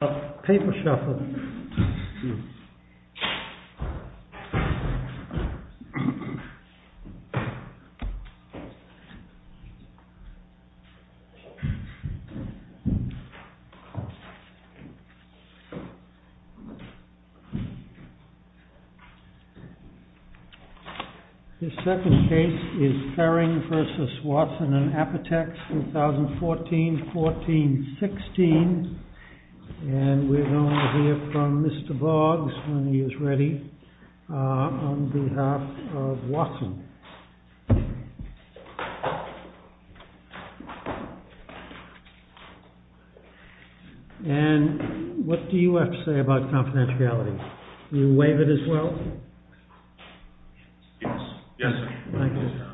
A paper shuffle. This second case is Ferring v. Watson & Apotex, 2014-14-16. And we're going to hear from Mr. Boggs, when he is ready, on behalf of Watson. And what do you have to say about confidentiality? Will you waive it as well? Yes. Thank you. Thank you.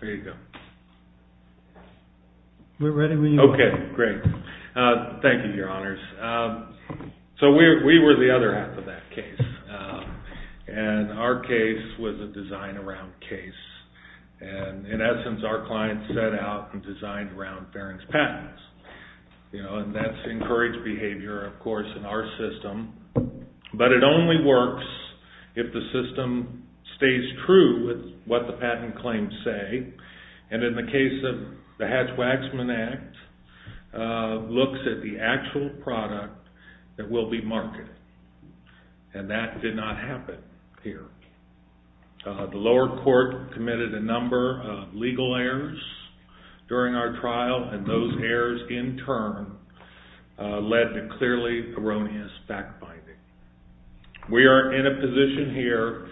There you go. We're ready when you are. Okay, great. Thank you, Your Honors. So we were the other half of that case. And our case was a design around case. And in essence, our client set out and designed around Ferring's patents. And that's encouraged behavior, of course, in our system. But it only works if the system stays true with what the patent claims say. And in the case of the Hatch-Waxman Act, looks at the actual product that will be marketed. And that did not happen here. The lower court committed a number of legal errors during our trial. And those errors, in turn, led to clearly erroneous fact-finding. We are in a position here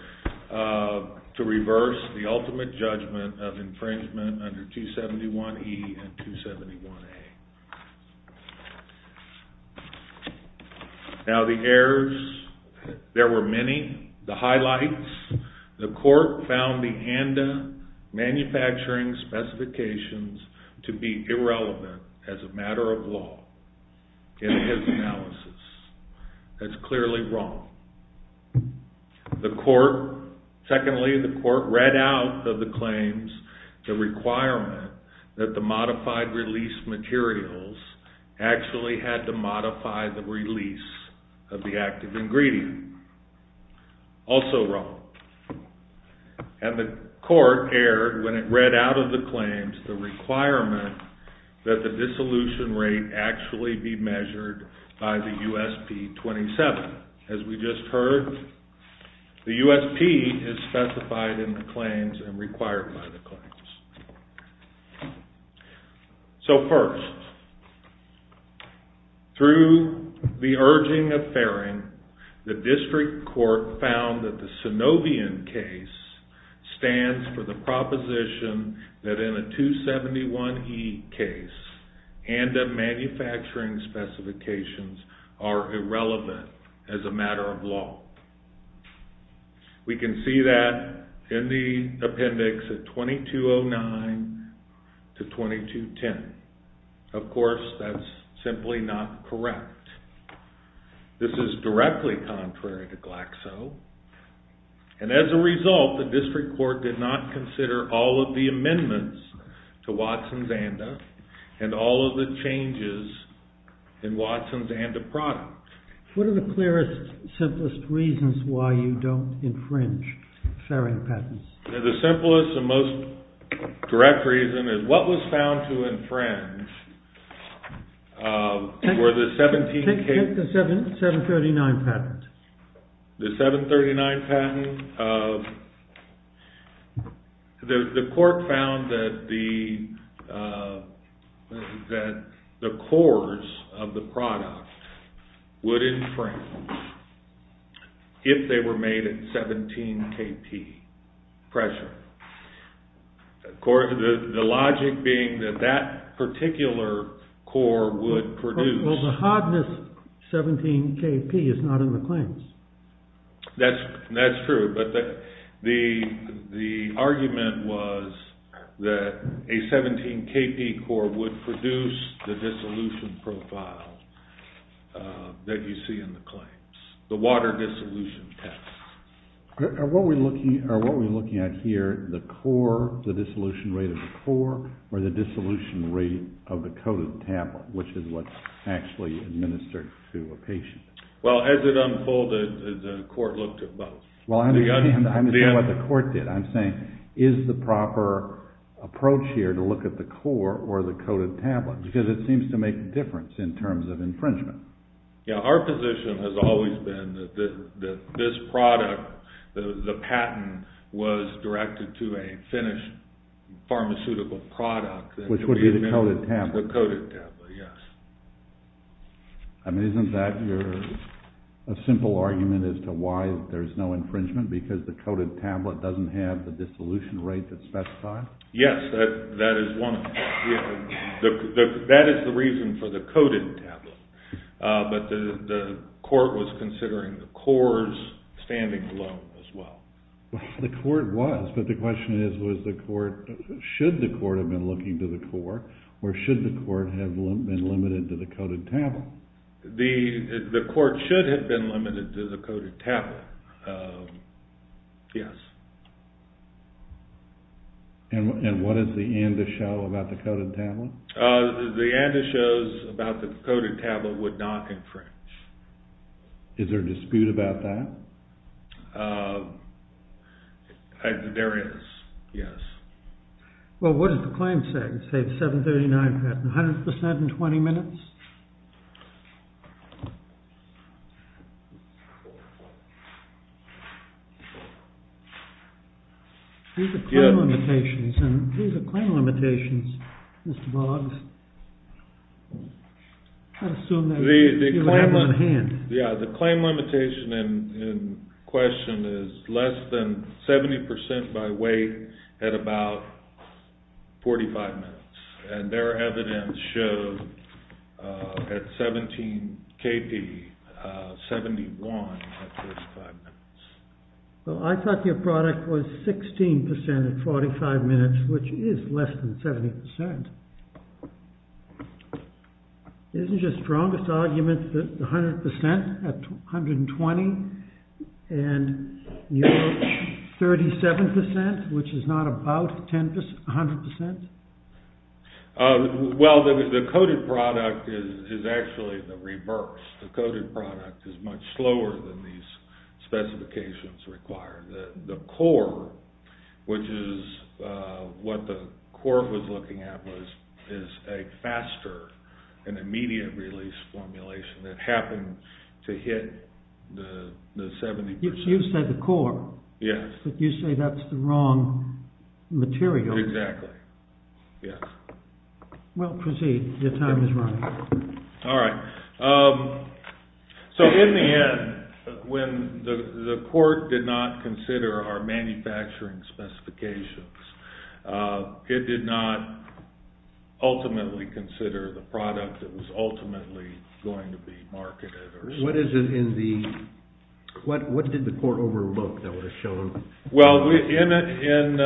to reverse the ultimate judgment of infringement under 271E and 271A. Now, the errors, there were many. The highlights, the court found the ANDA manufacturing specifications to be irrelevant as a matter of law in his analysis. That's clearly wrong. The court, secondly, the court read out of the claims the requirement that the modified release materials actually had to modify the release of the active ingredient. Also wrong. And the court erred when it read out of the claims the requirement that the dissolution rate actually be measured by the USP 27. But, as we just heard, the USP is specified in the claims and required by the claims. So first, through the urging of Farring, the district court found that the Synovian case stands for the proposition that in a 271E case, ANDA manufacturing specifications are irrelevant as a matter of law. We can see that in the appendix at 2209 to 2210. Of course, that's simply not correct. This is directly contrary to Glaxo. And as a result, the district court did not consider all of the amendments to Watson's ANDA and all of the changes in Watson's ANDA product. What are the clearest, simplest reasons why you don't infringe Farring patents? The simplest and most direct reason is what was found to infringe were the 17K... Take the 739 patent. The 739 patent of... The court found that the cores of the product would infringe if they were made at 17KP pressure. The logic being that that particular core would produce... Well, the hardness 17KP is not in the claims. That's true, but the argument was that a 17KP core would produce the dissolution profile that you see in the claims, the water dissolution test. Are what we're looking at here the core, the dissolution rate of the core, or the dissolution rate of the coded tablet, which is what's actually administered to a patient? Well, as it unfolded, the court looked at both. Well, I'm saying what the court did. I'm saying is the proper approach here to look at the core or the coded tablet, because it seems to make a difference in terms of infringement. Yeah, our position has always been that this product, the patent, was directed to a finished pharmaceutical product. Which would be the coded tablet. The coded tablet, yes. I mean, isn't that a simple argument as to why there's no infringement, because the coded tablet doesn't have the dissolution rate that's specified? Yes, that is one of them. That is the reason for the coded tablet, but the court was considering the core's standing alone as well. The court was, but the question is, was the court, should the court have been looking to the core, or should the court have been limited to the coded tablet? The court should have been limited to the coded tablet, yes. And what does the ANDA show about the coded tablet? The ANDA shows about the coded tablet would not infringe. Is there a dispute about that? There is, yes. Well, what does the claim say? It says 739, 100% in 20 minutes. These are claim limitations, Mr. Boggs. I'd assume that you have them on hand. Yeah, the claim limitation in question is less than 70% by weight at about 45 minutes. And their evidence shows at 17 kp, 71 at 45 minutes. Well, I thought your product was 16% at 45 minutes, which is less than 70%. Isn't your strongest argument that 100% at 120 and 37%, which is not about 100%? Well, the coded product is actually the reverse. The coded product is much slower than these specifications require. The core, which is what the court was looking at, is a faster and immediate release formulation that happened to hit the 70%. You said the core. Yes. But you say that's the wrong material. Exactly, yes. Well, proceed. Your time is running. All right. So in the end, when the court did not consider our manufacturing specifications, it did not ultimately consider the product that was ultimately going to be marketed. What did the court overlook that would have shown? Well, in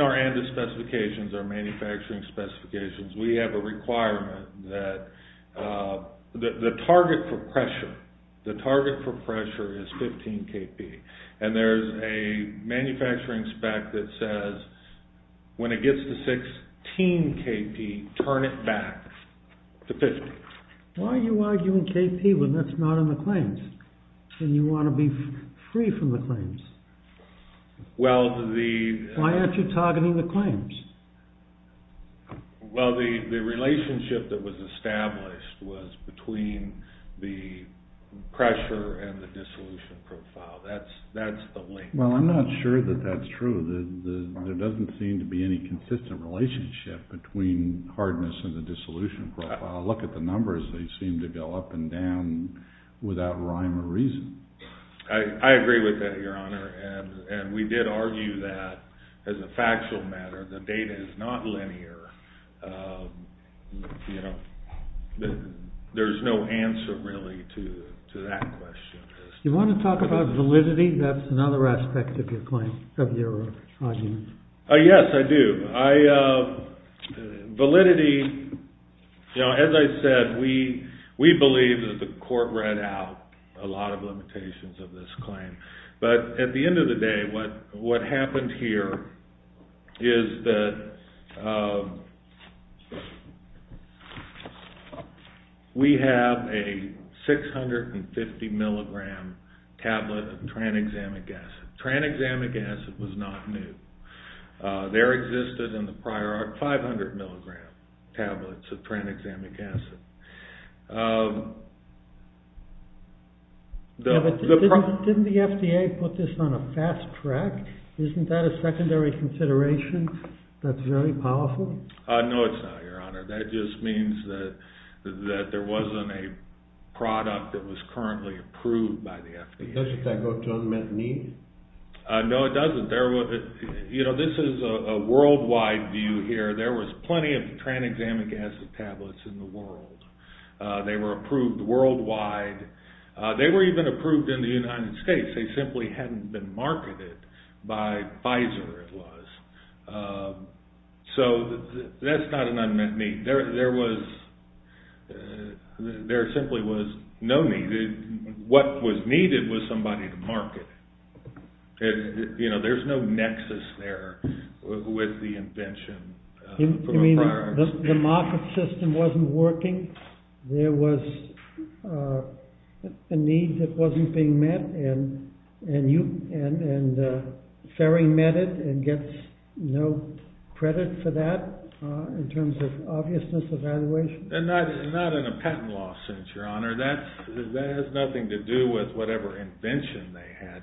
our ANDA specifications, our manufacturing specifications, we have a requirement that the target for pressure is 15 kp. And there's a manufacturing spec that says when it gets to 16 kp, turn it back to 50. Why are you arguing kp when that's not in the claims? And you want to be free from the claims. Well, the— Why aren't you targeting the claims? Well, the relationship that was established was between the pressure and the dissolution profile. That's the link. Well, I'm not sure that that's true. There doesn't seem to be any consistent relationship between hardness and the dissolution profile. Look at the numbers. They seem to go up and down without rhyme or reason. I agree with that, Your Honor. And we did argue that, as a factual matter, the data is not linear. There's no answer, really, to that question. Do you want to talk about validity? That's another aspect of your argument. Yes, I do. Validity—you know, as I said, we believe that the court read out a lot of limitations of this claim. But at the end of the day, what happened here is that we have a 650-milligram tablet of tranexamic acid. Tranexamic acid was not new. There existed in the prior art 500-milligram tablets of tranexamic acid. Didn't the FDA put this on a fast track? Isn't that a secondary consideration that's very powerful? No, it's not, Your Honor. That just means that there wasn't a product that was currently approved by the FDA. Doesn't that go to unmet needs? No, it doesn't. You know, this is a worldwide view here. There was plenty of tranexamic acid tablets in the world. They were approved worldwide. They were even approved in the United States. They simply hadn't been marketed by Pfizer, it was. So that's not an unmet need. There simply was no need. What was needed was somebody to market it. You know, there's no nexus there with the invention. You mean the market system wasn't working? There was a need that wasn't being met and Ferry met it and gets no credit for that in terms of obviousness evaluation? Not in a patent law sense, Your Honor. That has nothing to do with whatever invention they had.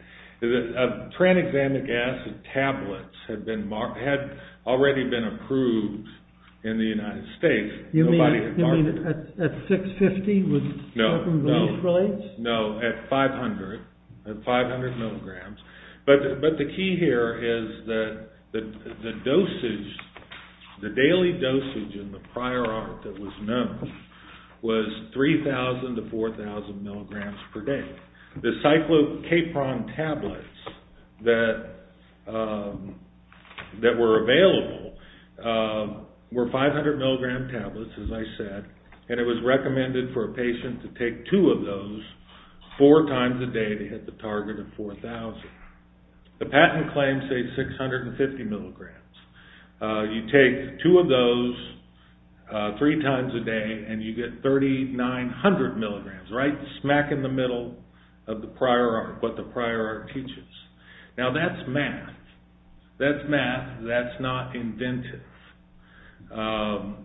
Tranexamic acid tablets had already been approved in the United States. You mean at 650? No, at 500 milligrams. But the key here is that the daily dosage in the prior art that was known was 3,000 to 4,000 milligrams per day. The cyclocapron tablets that were available were 500 milligram tablets, as I said, and it was recommended for a patient to take two of those four times a day to hit the target of 4,000. The patent claims say 650 milligrams. You take two of those three times a day and you get 3,900 milligrams, right smack in the middle of the prior art, what the prior art teaches. Now that's math. That's math. That's not inventive. The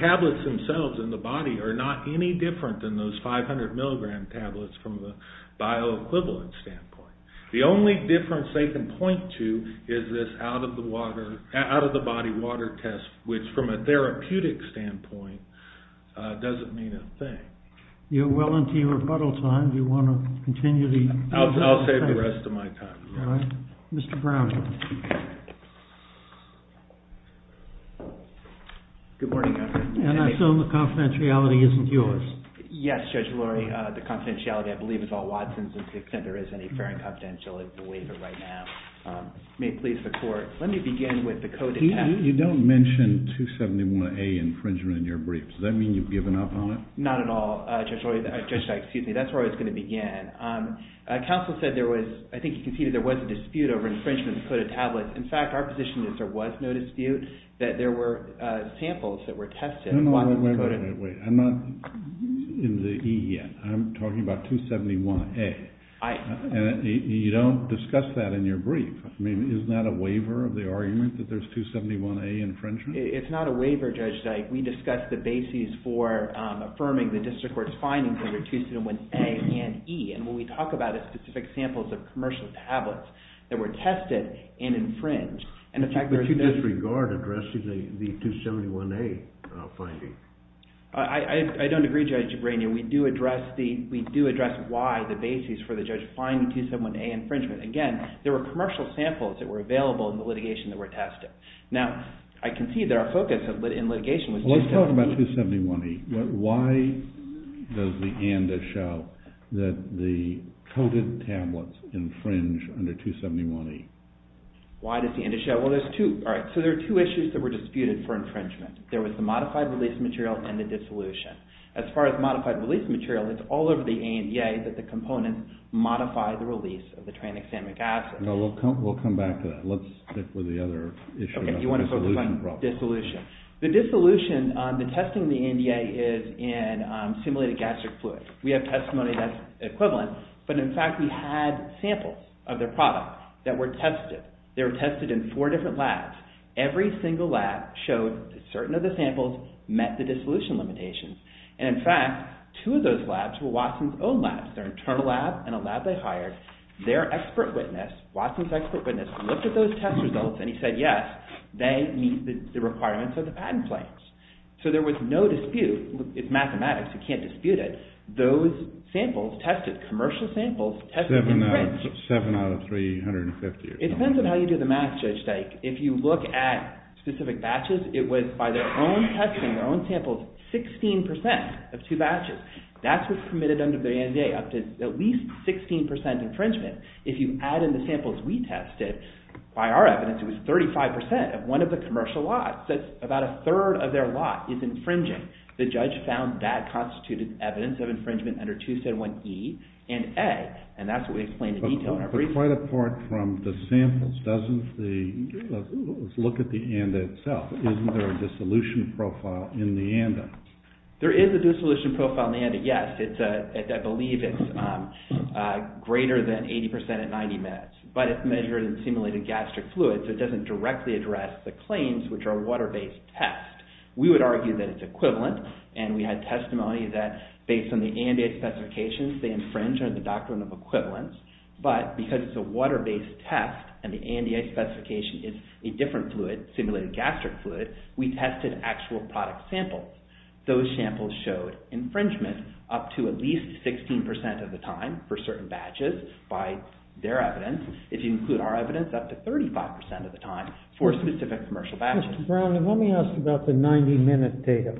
tablets themselves in the body are not any different than those 500 milligram tablets from the bioequivalent standpoint. The only difference they can point to is this out-of-the-body water test, which from a therapeutic standpoint doesn't mean a thing. You're well into your rebuttal time. Do you want to continue the— I'll save the rest of my time. All right. Mr. Brown. Good morning, Your Honor. And I assume the confidentiality isn't yours. Yes, Judge Lurie. The confidentiality, I believe, is all Watson's to the extent there is any fair and confidential. I believe it right now. May it please the Court. Let me begin with the coded test. You don't mention 271A infringement in your brief. Does that mean you've given up on it? Not at all, Judge Dyke. Excuse me. That's where I was going to begin. Counsel said there was—I think he conceded there was a dispute over infringement of the coded tablets. In fact, our position is there was no dispute, that there were samples that were tested— Wait, wait, wait. I'm not in the E yet. I'm talking about 271A. And you don't discuss that in your brief. I mean, is that a waiver of the argument that there's 271A infringement? It's not a waiver, Judge Dyke. We discussed the basis for affirming the district court's findings over 271A and E. And when we talk about specific samples of commercial tablets that were tested and infringed— But you disregard addressing the 271A finding. I don't agree, Judge Branion. We do address why the basis for the judge finding 271A infringement. Again, there were commercial samples that were available in the litigation that were tested. Now, I concede that our focus in litigation was— Well, let's talk about 271A. Why does the ANDA show that the coded tablets infringe under 271A? Why does the ANDA show— Well, there's two— All right, so there are two issues that were disputed for infringement. There was the modified release material and the dissolution. As far as modified release material, it's all over the ANDA that the components modify the release of the tranexamic acid. No, we'll come back to that. Let's stick with the other issue. Okay, you want to focus on dissolution. The dissolution, the testing of the ANDA is in simulated gastric fluid. We have testimony that's equivalent. But, in fact, we had samples of their product that were tested. They were tested in four different labs. Every single lab showed that certain of the samples met the dissolution limitations. And, in fact, two of those labs were Watson's own labs, their internal lab and a lab they hired. Their expert witness, Watson's expert witness, looked at those test results and he said, yes, they meet the requirements of the patent claims. So there was no dispute. It's mathematics. You can't dispute it. Those samples tested, commercial samples tested. Seven out of 350. It depends on how you do the math, Judge Dyke. If you look at specific batches, it was, by their own testing, their own samples, 16% of two batches. That's what's permitted under the ANDA, up to at least 16% infringement. If you add in the samples we tested, by our evidence, it was 35% of one of the commercial lots. That's about a third of their lot is infringing. The judge found that constituted evidence of infringement under 271E and A. And that's what we explained in detail in our brief. But quite apart from the samples, doesn't the, let's look at the ANDA itself. Isn't there a dissolution profile in the ANDA? There is a dissolution profile in the ANDA, yes. I believe it's greater than 80% at 90 minutes. But it's measured in simulated gastric fluids, so it doesn't directly address the claims, which are water-based tests. We would argue that it's equivalent, and we had testimony that based on the ANDA specifications, they infringe under the doctrine of equivalence. But because it's a water-based test, and the ANDA specification is a different fluid, simulated gastric fluid, we tested actual product samples. Those samples showed infringement up to at least 16% of the time for certain batches, by their evidence. If you include our evidence, up to 35% of the time for specific commercial batches. Now, Mr. Brown, let me ask about the 90-minute data.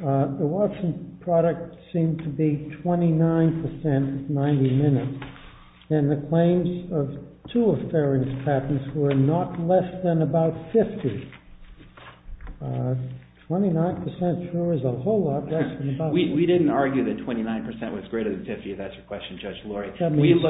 The Watson product seemed to be 29% 90 minutes. And the claims of two of Farron's patents were not less than about 50. 29% sure is a whole lot less than about 50. We didn't argue that 29% was greater than 50, if that's your question, Judge Laurie. That means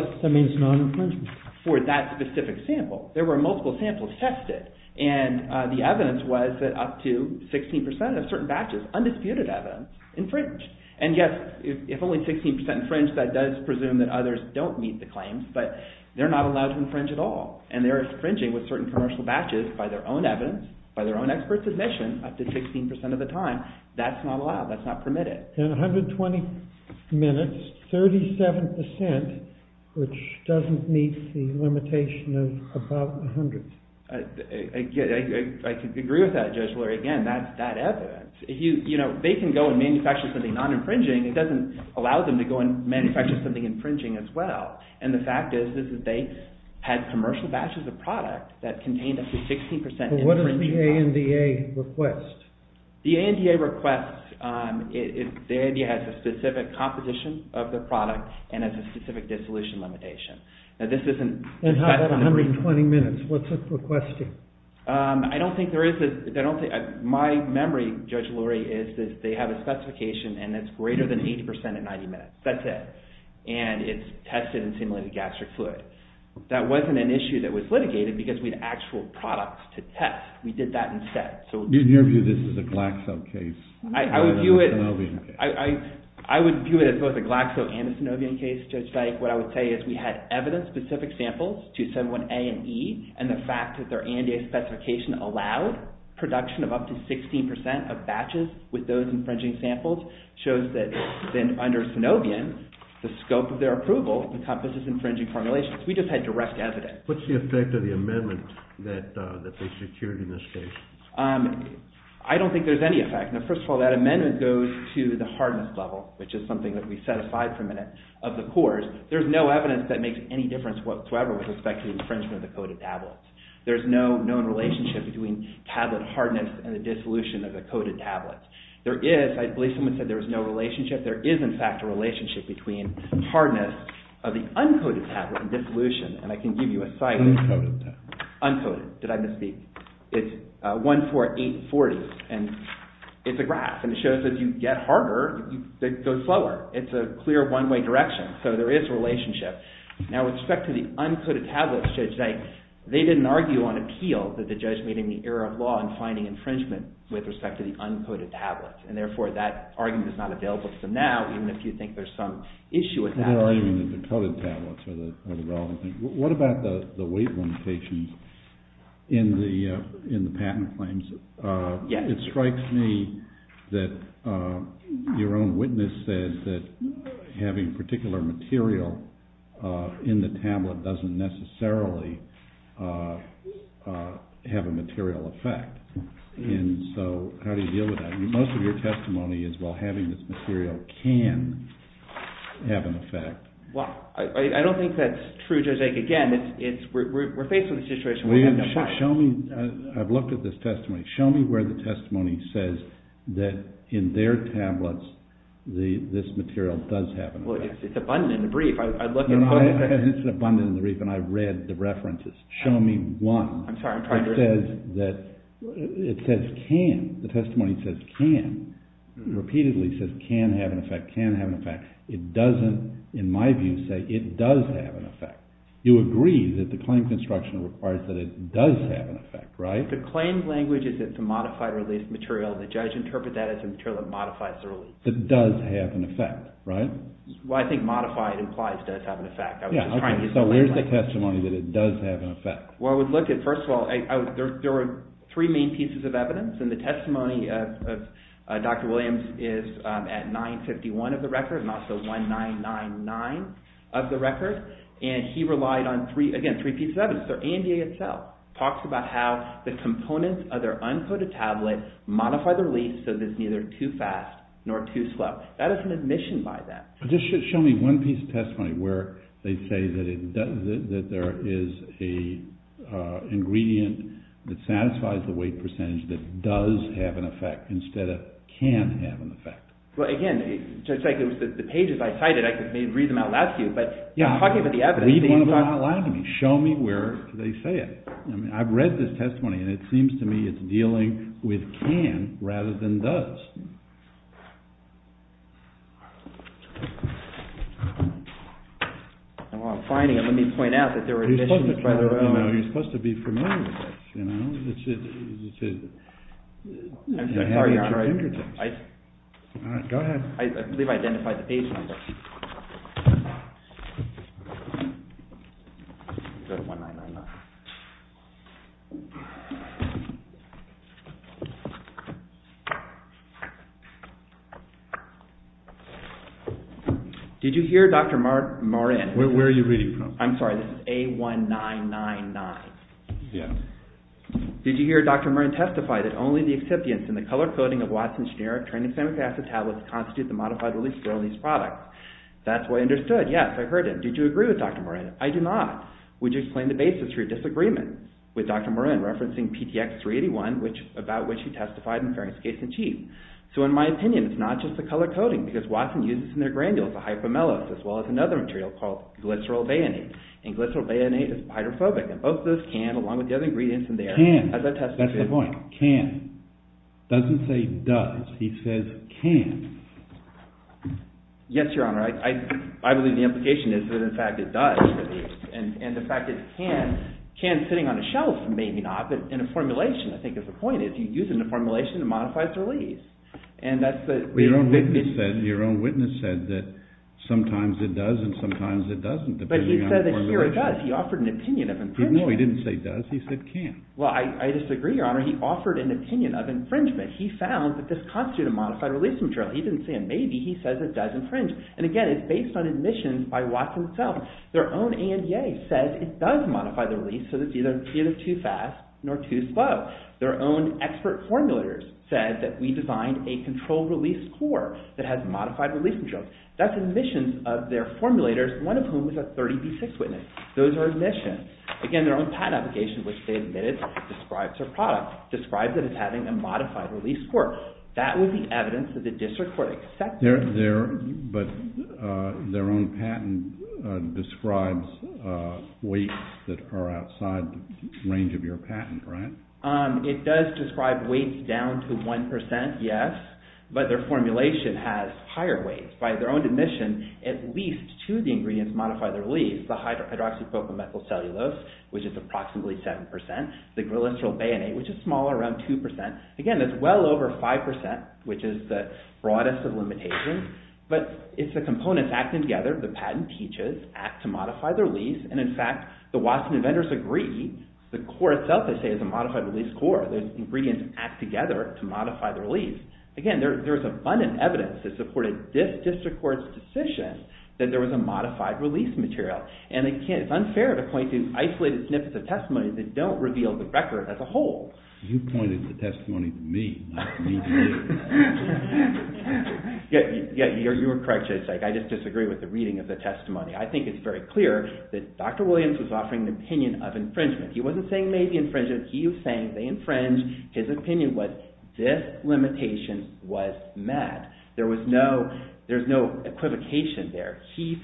non-infringement. For that specific sample, there were multiple samples tested, and the evidence was that up to 16% of certain batches, undisputed evidence, infringed. And yet, if only 16% infringed, that does presume that others don't meet the claims, but they're not allowed to infringe at all. And they're infringing with certain commercial batches by their own evidence, by their own experts' admission, up to 16% of the time. That's not allowed. That's not permitted. In 120 minutes, 37%, which doesn't meet the limitation of about 100. I can agree with that, Judge Laurie. Again, that's that evidence. They can go and manufacture something non-infringing. It doesn't allow them to go and manufacture something infringing as well. And the fact is that they had commercial batches of product that contained up to 16% infringing. What is the ANDA request? The ANDA request, the ANDA has a specific competition of their product and has a specific dissolution limitation. And how about 120 minutes? What's it requesting? I don't think there is. My memory, Judge Laurie, is that they have a specification and it's greater than 80% in 90 minutes. That's it. And it's tested and simulated gastric fluid. That wasn't an issue that was litigated because we had actual products to test. We did that instead. In your view, this is a Glaxo case rather than a Synovian case? I would view it as both a Glaxo and a Synovian case, Judge Dyke. What I would say is we had evidence-specific samples, 271A and E, and the fact that their ANDA specification allowed production of up to 16% of batches with those infringing samples shows that then under Synovian, the scope of their approval encompasses infringing formulations. We just had direct evidence. What's the effect of the amendment that they secured in this case? I don't think there's any effect. First of all, that amendment goes to the hardness level, which is something that we set aside for a minute, of the cores. There's no evidence that makes any difference whatsoever with respect to the infringement of the coded tablets. There's no known relationship between tablet hardness and the dissolution of the coded tablets. I believe someone said there is no relationship. There is, in fact, a relationship between hardness of the uncoded tablets and dissolution, and I can give you a site. Uncoded tablets. Uncoded. Did I misspeak? It's 14840, and it's a graph, and it shows that you get harder, you go slower. It's a clear one-way direction, so there is a relationship. Now, with respect to the uncoded tablets, Judge Dyke, they didn't argue on appeal that the judge made any error of law in finding infringement with respect to the uncoded tablets, and therefore that argument is not available to them now, even if you think there's some issue with that. They're arguing that the coded tablets are the relevant thing. What about the weight limitations in the patent claims? It strikes me that your own witness said that having particular material in the tablet doesn't necessarily have a material effect, and so how do you deal with that? Most of your testimony is, well, having this material can have an effect. I don't think that's true, Judge Dyke. Again, we're faced with a situation where we have no choice. I've looked at this testimony. Show me where the testimony says that in their tablets this material does have an effect. It's abundant in the brief. It's abundant in the brief, and I've read the references. Show me one that says can. The testimony says can. It repeatedly says can have an effect, can have an effect. It doesn't, in my view, say it does have an effect. You agree that the claim construction requires that it does have an effect, right? The claim language is that it's a modified released material. The judge interprets that as a material that modifies the release. It does have an effect, right? Well, I think modified implies it does have an effect. So where's the testimony that it does have an effect? Well, I would look at, first of all, there are three main pieces of evidence, and the testimony of Dr. Williams is at 951 of the record and also 1999 of the record, and he relied on, again, three pieces of evidence. The AMDA itself talks about how the components of their uncoated tablet modify the release so that it's neither too fast nor too slow. That is an admission by them. Just show me one piece of testimony where they say that there is an ingredient that satisfies the weight percentage that does have an effect instead of can have an effect. Well, again, the pages I cited, I could read them out loud to you, but you're talking about the evidence. Read one of them out loud to me. Show me where they say it. I've read this testimony, and it seems to me it's dealing with can rather than does. While I'm finding it, let me point out that there are admissions by their own. You're supposed to be familiar with this. Did you hear Dr. Moran? Where are you reading from? I'm sorry, this is A1999. Yes. Did you hear Dr. Moran testify that only the excipients in the color-coding of Watson's generic training-specific tablets constitute the modified release for all these products? That's what I understood. Yes, I heard it. Did you agree with Dr. Moran? I do not. Would you explain the basis for your disagreement with Dr. Moran, referencing PTX381, about which he testified in Farrington's case in chief? In my opinion, it's not just the color-coding, because Watson uses in their granules a hypomellose as well as another material called glycerol bayonet, and glycerol bayonet is hydrophobic, and both those can, along with the other ingredients in there. Can. As I testified. That's the point. Can. Doesn't say does. He says can. Yes, Your Honor. I believe the implication is that, in fact, it does release. And the fact that it can, can sitting on a shelf, maybe not, but in a formulation, I think is the point, is you use it in a formulation, it modifies the release. Your own witness said that sometimes it does and sometimes it doesn't, depending on the formulation. But he said that here it does. He offered an opinion of infringement. No, he didn't say does. He said can. Well, I disagree, Your Honor. He offered an opinion of infringement. He found that this constituted a modified release material. He didn't say a maybe. He said it does infringe. And, again, it's based on admissions by Watson itself. Their own ANDA says it does modify the release, so it's neither too fast nor too slow. Their own expert formulators said that we designed a controlled release score that has modified release materials. That's admissions of their formulators, one of whom was a 30B6 witness. Those are admissions. Again, their own patent application, which they admitted, describes their product, describes it as having a modified release score. That would be evidence that the district court accepted. But their own patent describes weights that are outside the range of your patent, right? It does describe weights down to 1%, yes. But their formulation has higher weights. By their own admission, at least two of the ingredients modify the release, the hydroxypropyl methyl cellulose, which is approximately 7%, the glycerol bayonet, which is smaller, around 2%. Again, that's well over 5%, which is the broadest of limitations. But it's the components acting together, the patent teaches, act to modify the release. And, in fact, the Watson inventors agree. The core itself, they say, is a modified release score. The ingredients act together to modify the release. Again, there's abundant evidence that supported this district court's decision that there was a modified release material. And it's unfair to point to isolated snippets of testimony that don't reveal the record as a whole. You pointed to the testimony to me, not me to you. Yeah, you were correct, Judge. I just disagree with the reading of the testimony. I think it's very clear that Dr. Williams was offering an opinion of infringement. He wasn't saying they made the infringement. He was saying they infringed. His opinion was this limitation was met. There was no equivocation there. He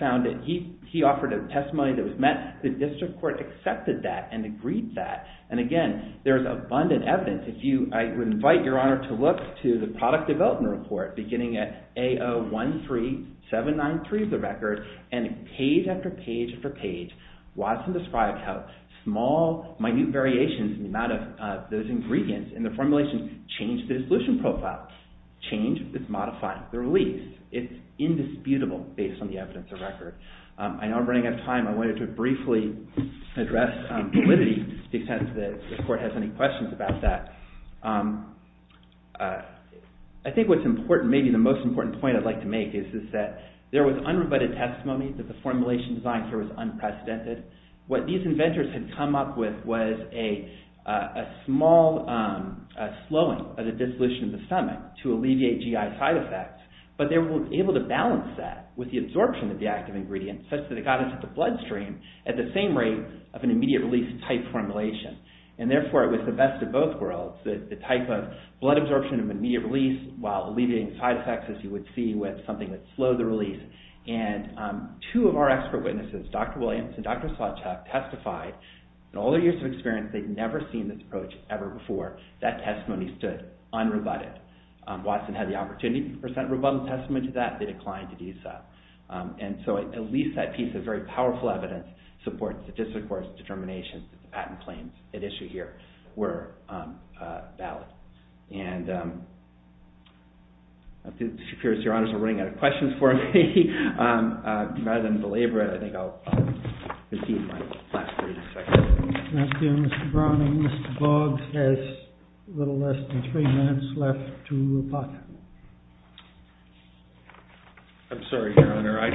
offered a testimony that was met. The district court accepted that and agreed that. And, again, there's abundant evidence. I would invite Your Honor to look to the product development report, beginning at AO13793, the record. And page after page after page, Watson described how small, minute variations in the amount of those ingredients in the formulation changed the dissolution profile. Change, it's modified. The release, it's indisputable based on the evidence of record. I know I'm running out of time. I wanted to briefly address validity to the extent that the court has any questions about that. I think what's important, maybe the most important point I'd like to make, is that there was unrebutted testimony that the formulation design here was unprecedented. What these inventors had come up with was a small slowing of the dissolution of the stomach to alleviate GI side effects. But they were able to balance that with the absorption of the active ingredients such that it got into the bloodstream at the same rate of an immediate release type formulation. And, therefore, it was the best of both worlds, the type of blood absorption of immediate release while alleviating side effects, as you would see, with something that slowed the release. And two of our expert witnesses, Dr. Williams and Dr. Sawcheck, testified in all their years of experience, they'd never seen this approach ever before. That testimony stood unrebutted. Watson had the opportunity to present a rebuttal testimony to that. They declined to do so. And so at least that piece of very powerful evidence supports the district court's determination that the patent claims at issue here were valid. And I'm curious. Your honors are running out of questions for me. Rather than belabor it, I think I'll recede my last 30 seconds. Thank you, Mr. Browning. Mr. Boggs has a little less than three minutes left to rebut. I'm sorry, your honor. I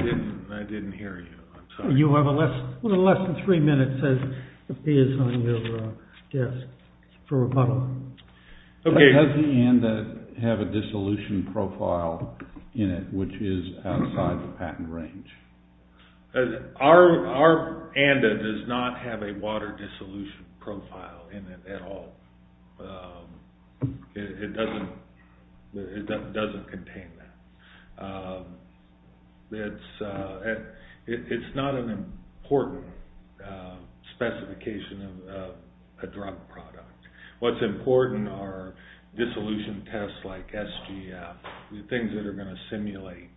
didn't hear you. You have a little less than three minutes, as it appears on your desk, for rebuttal. OK, does the ANDA have a dissolution profile in it which is outside the patent range? Our ANDA does not have a water dissolution profile in it at all. It doesn't contain that. It's not an important specification of a drug product. What's important are dissolution tests like SGF, the things that are going to simulate.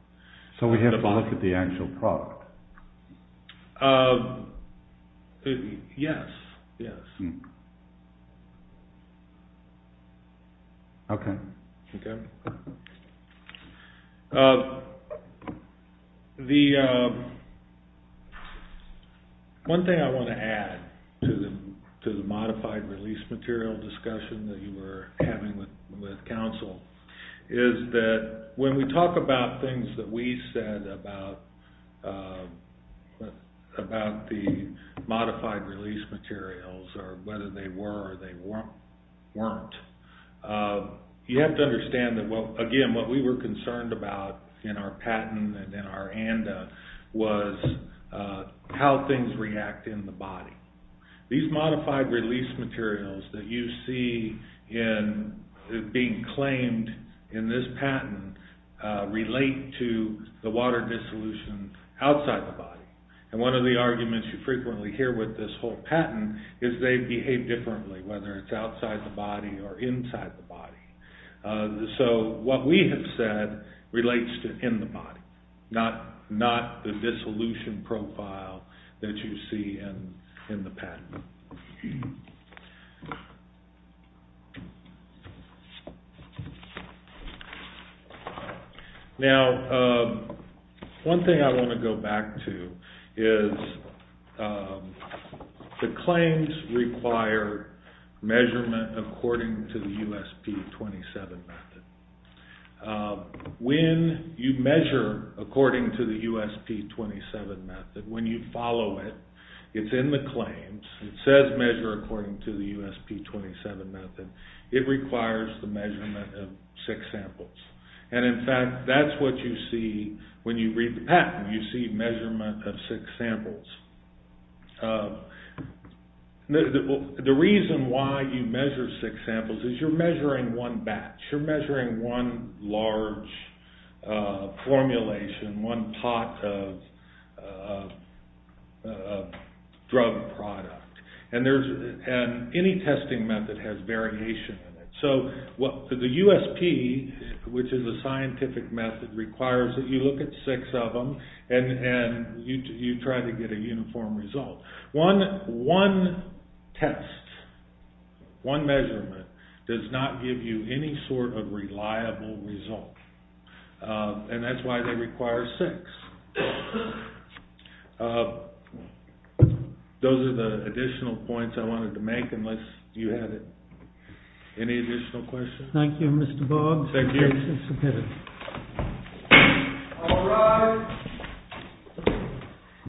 So we have to look at the actual product? Yes. One thing I want to add to the modified release material discussion that you were having with counsel is that when we talk about things that we said about the modified release materials, or whether they were or they weren't, you have to understand that, again, what we were concerned about in our patent and in our ANDA was how things react in the body. These modified release materials that you see being claimed in this patent relate to the water dissolution outside the body. And one of the arguments you frequently hear with this whole patent is they behave differently, whether it's outside the body or inside the body. So what we have said relates to in the body, not the dissolution profile that you see in the patent. Now, one thing I want to go back to is the claims require measurement according to the USP-27 method. When you measure according to the USP-27 method, when you follow it, it's in the claims. It requires the measurement of six samples. And in fact, that's what you see when you read the patent. You see measurement of six samples. The reason why you measure six samples is you're measuring one batch. You're measuring one large formulation, one pot of drug product. And any testing method has variation in it. So the USP, which is a scientific method, requires that you look at six of them and you try to get a uniform result. One test, one measurement, does not give you any sort of reliable result. And that's why they require six. Those are the additional points I wanted to make, unless you have any additional questions. Thank you, Mr. Boggs. Thank you. This is submitted. All rise.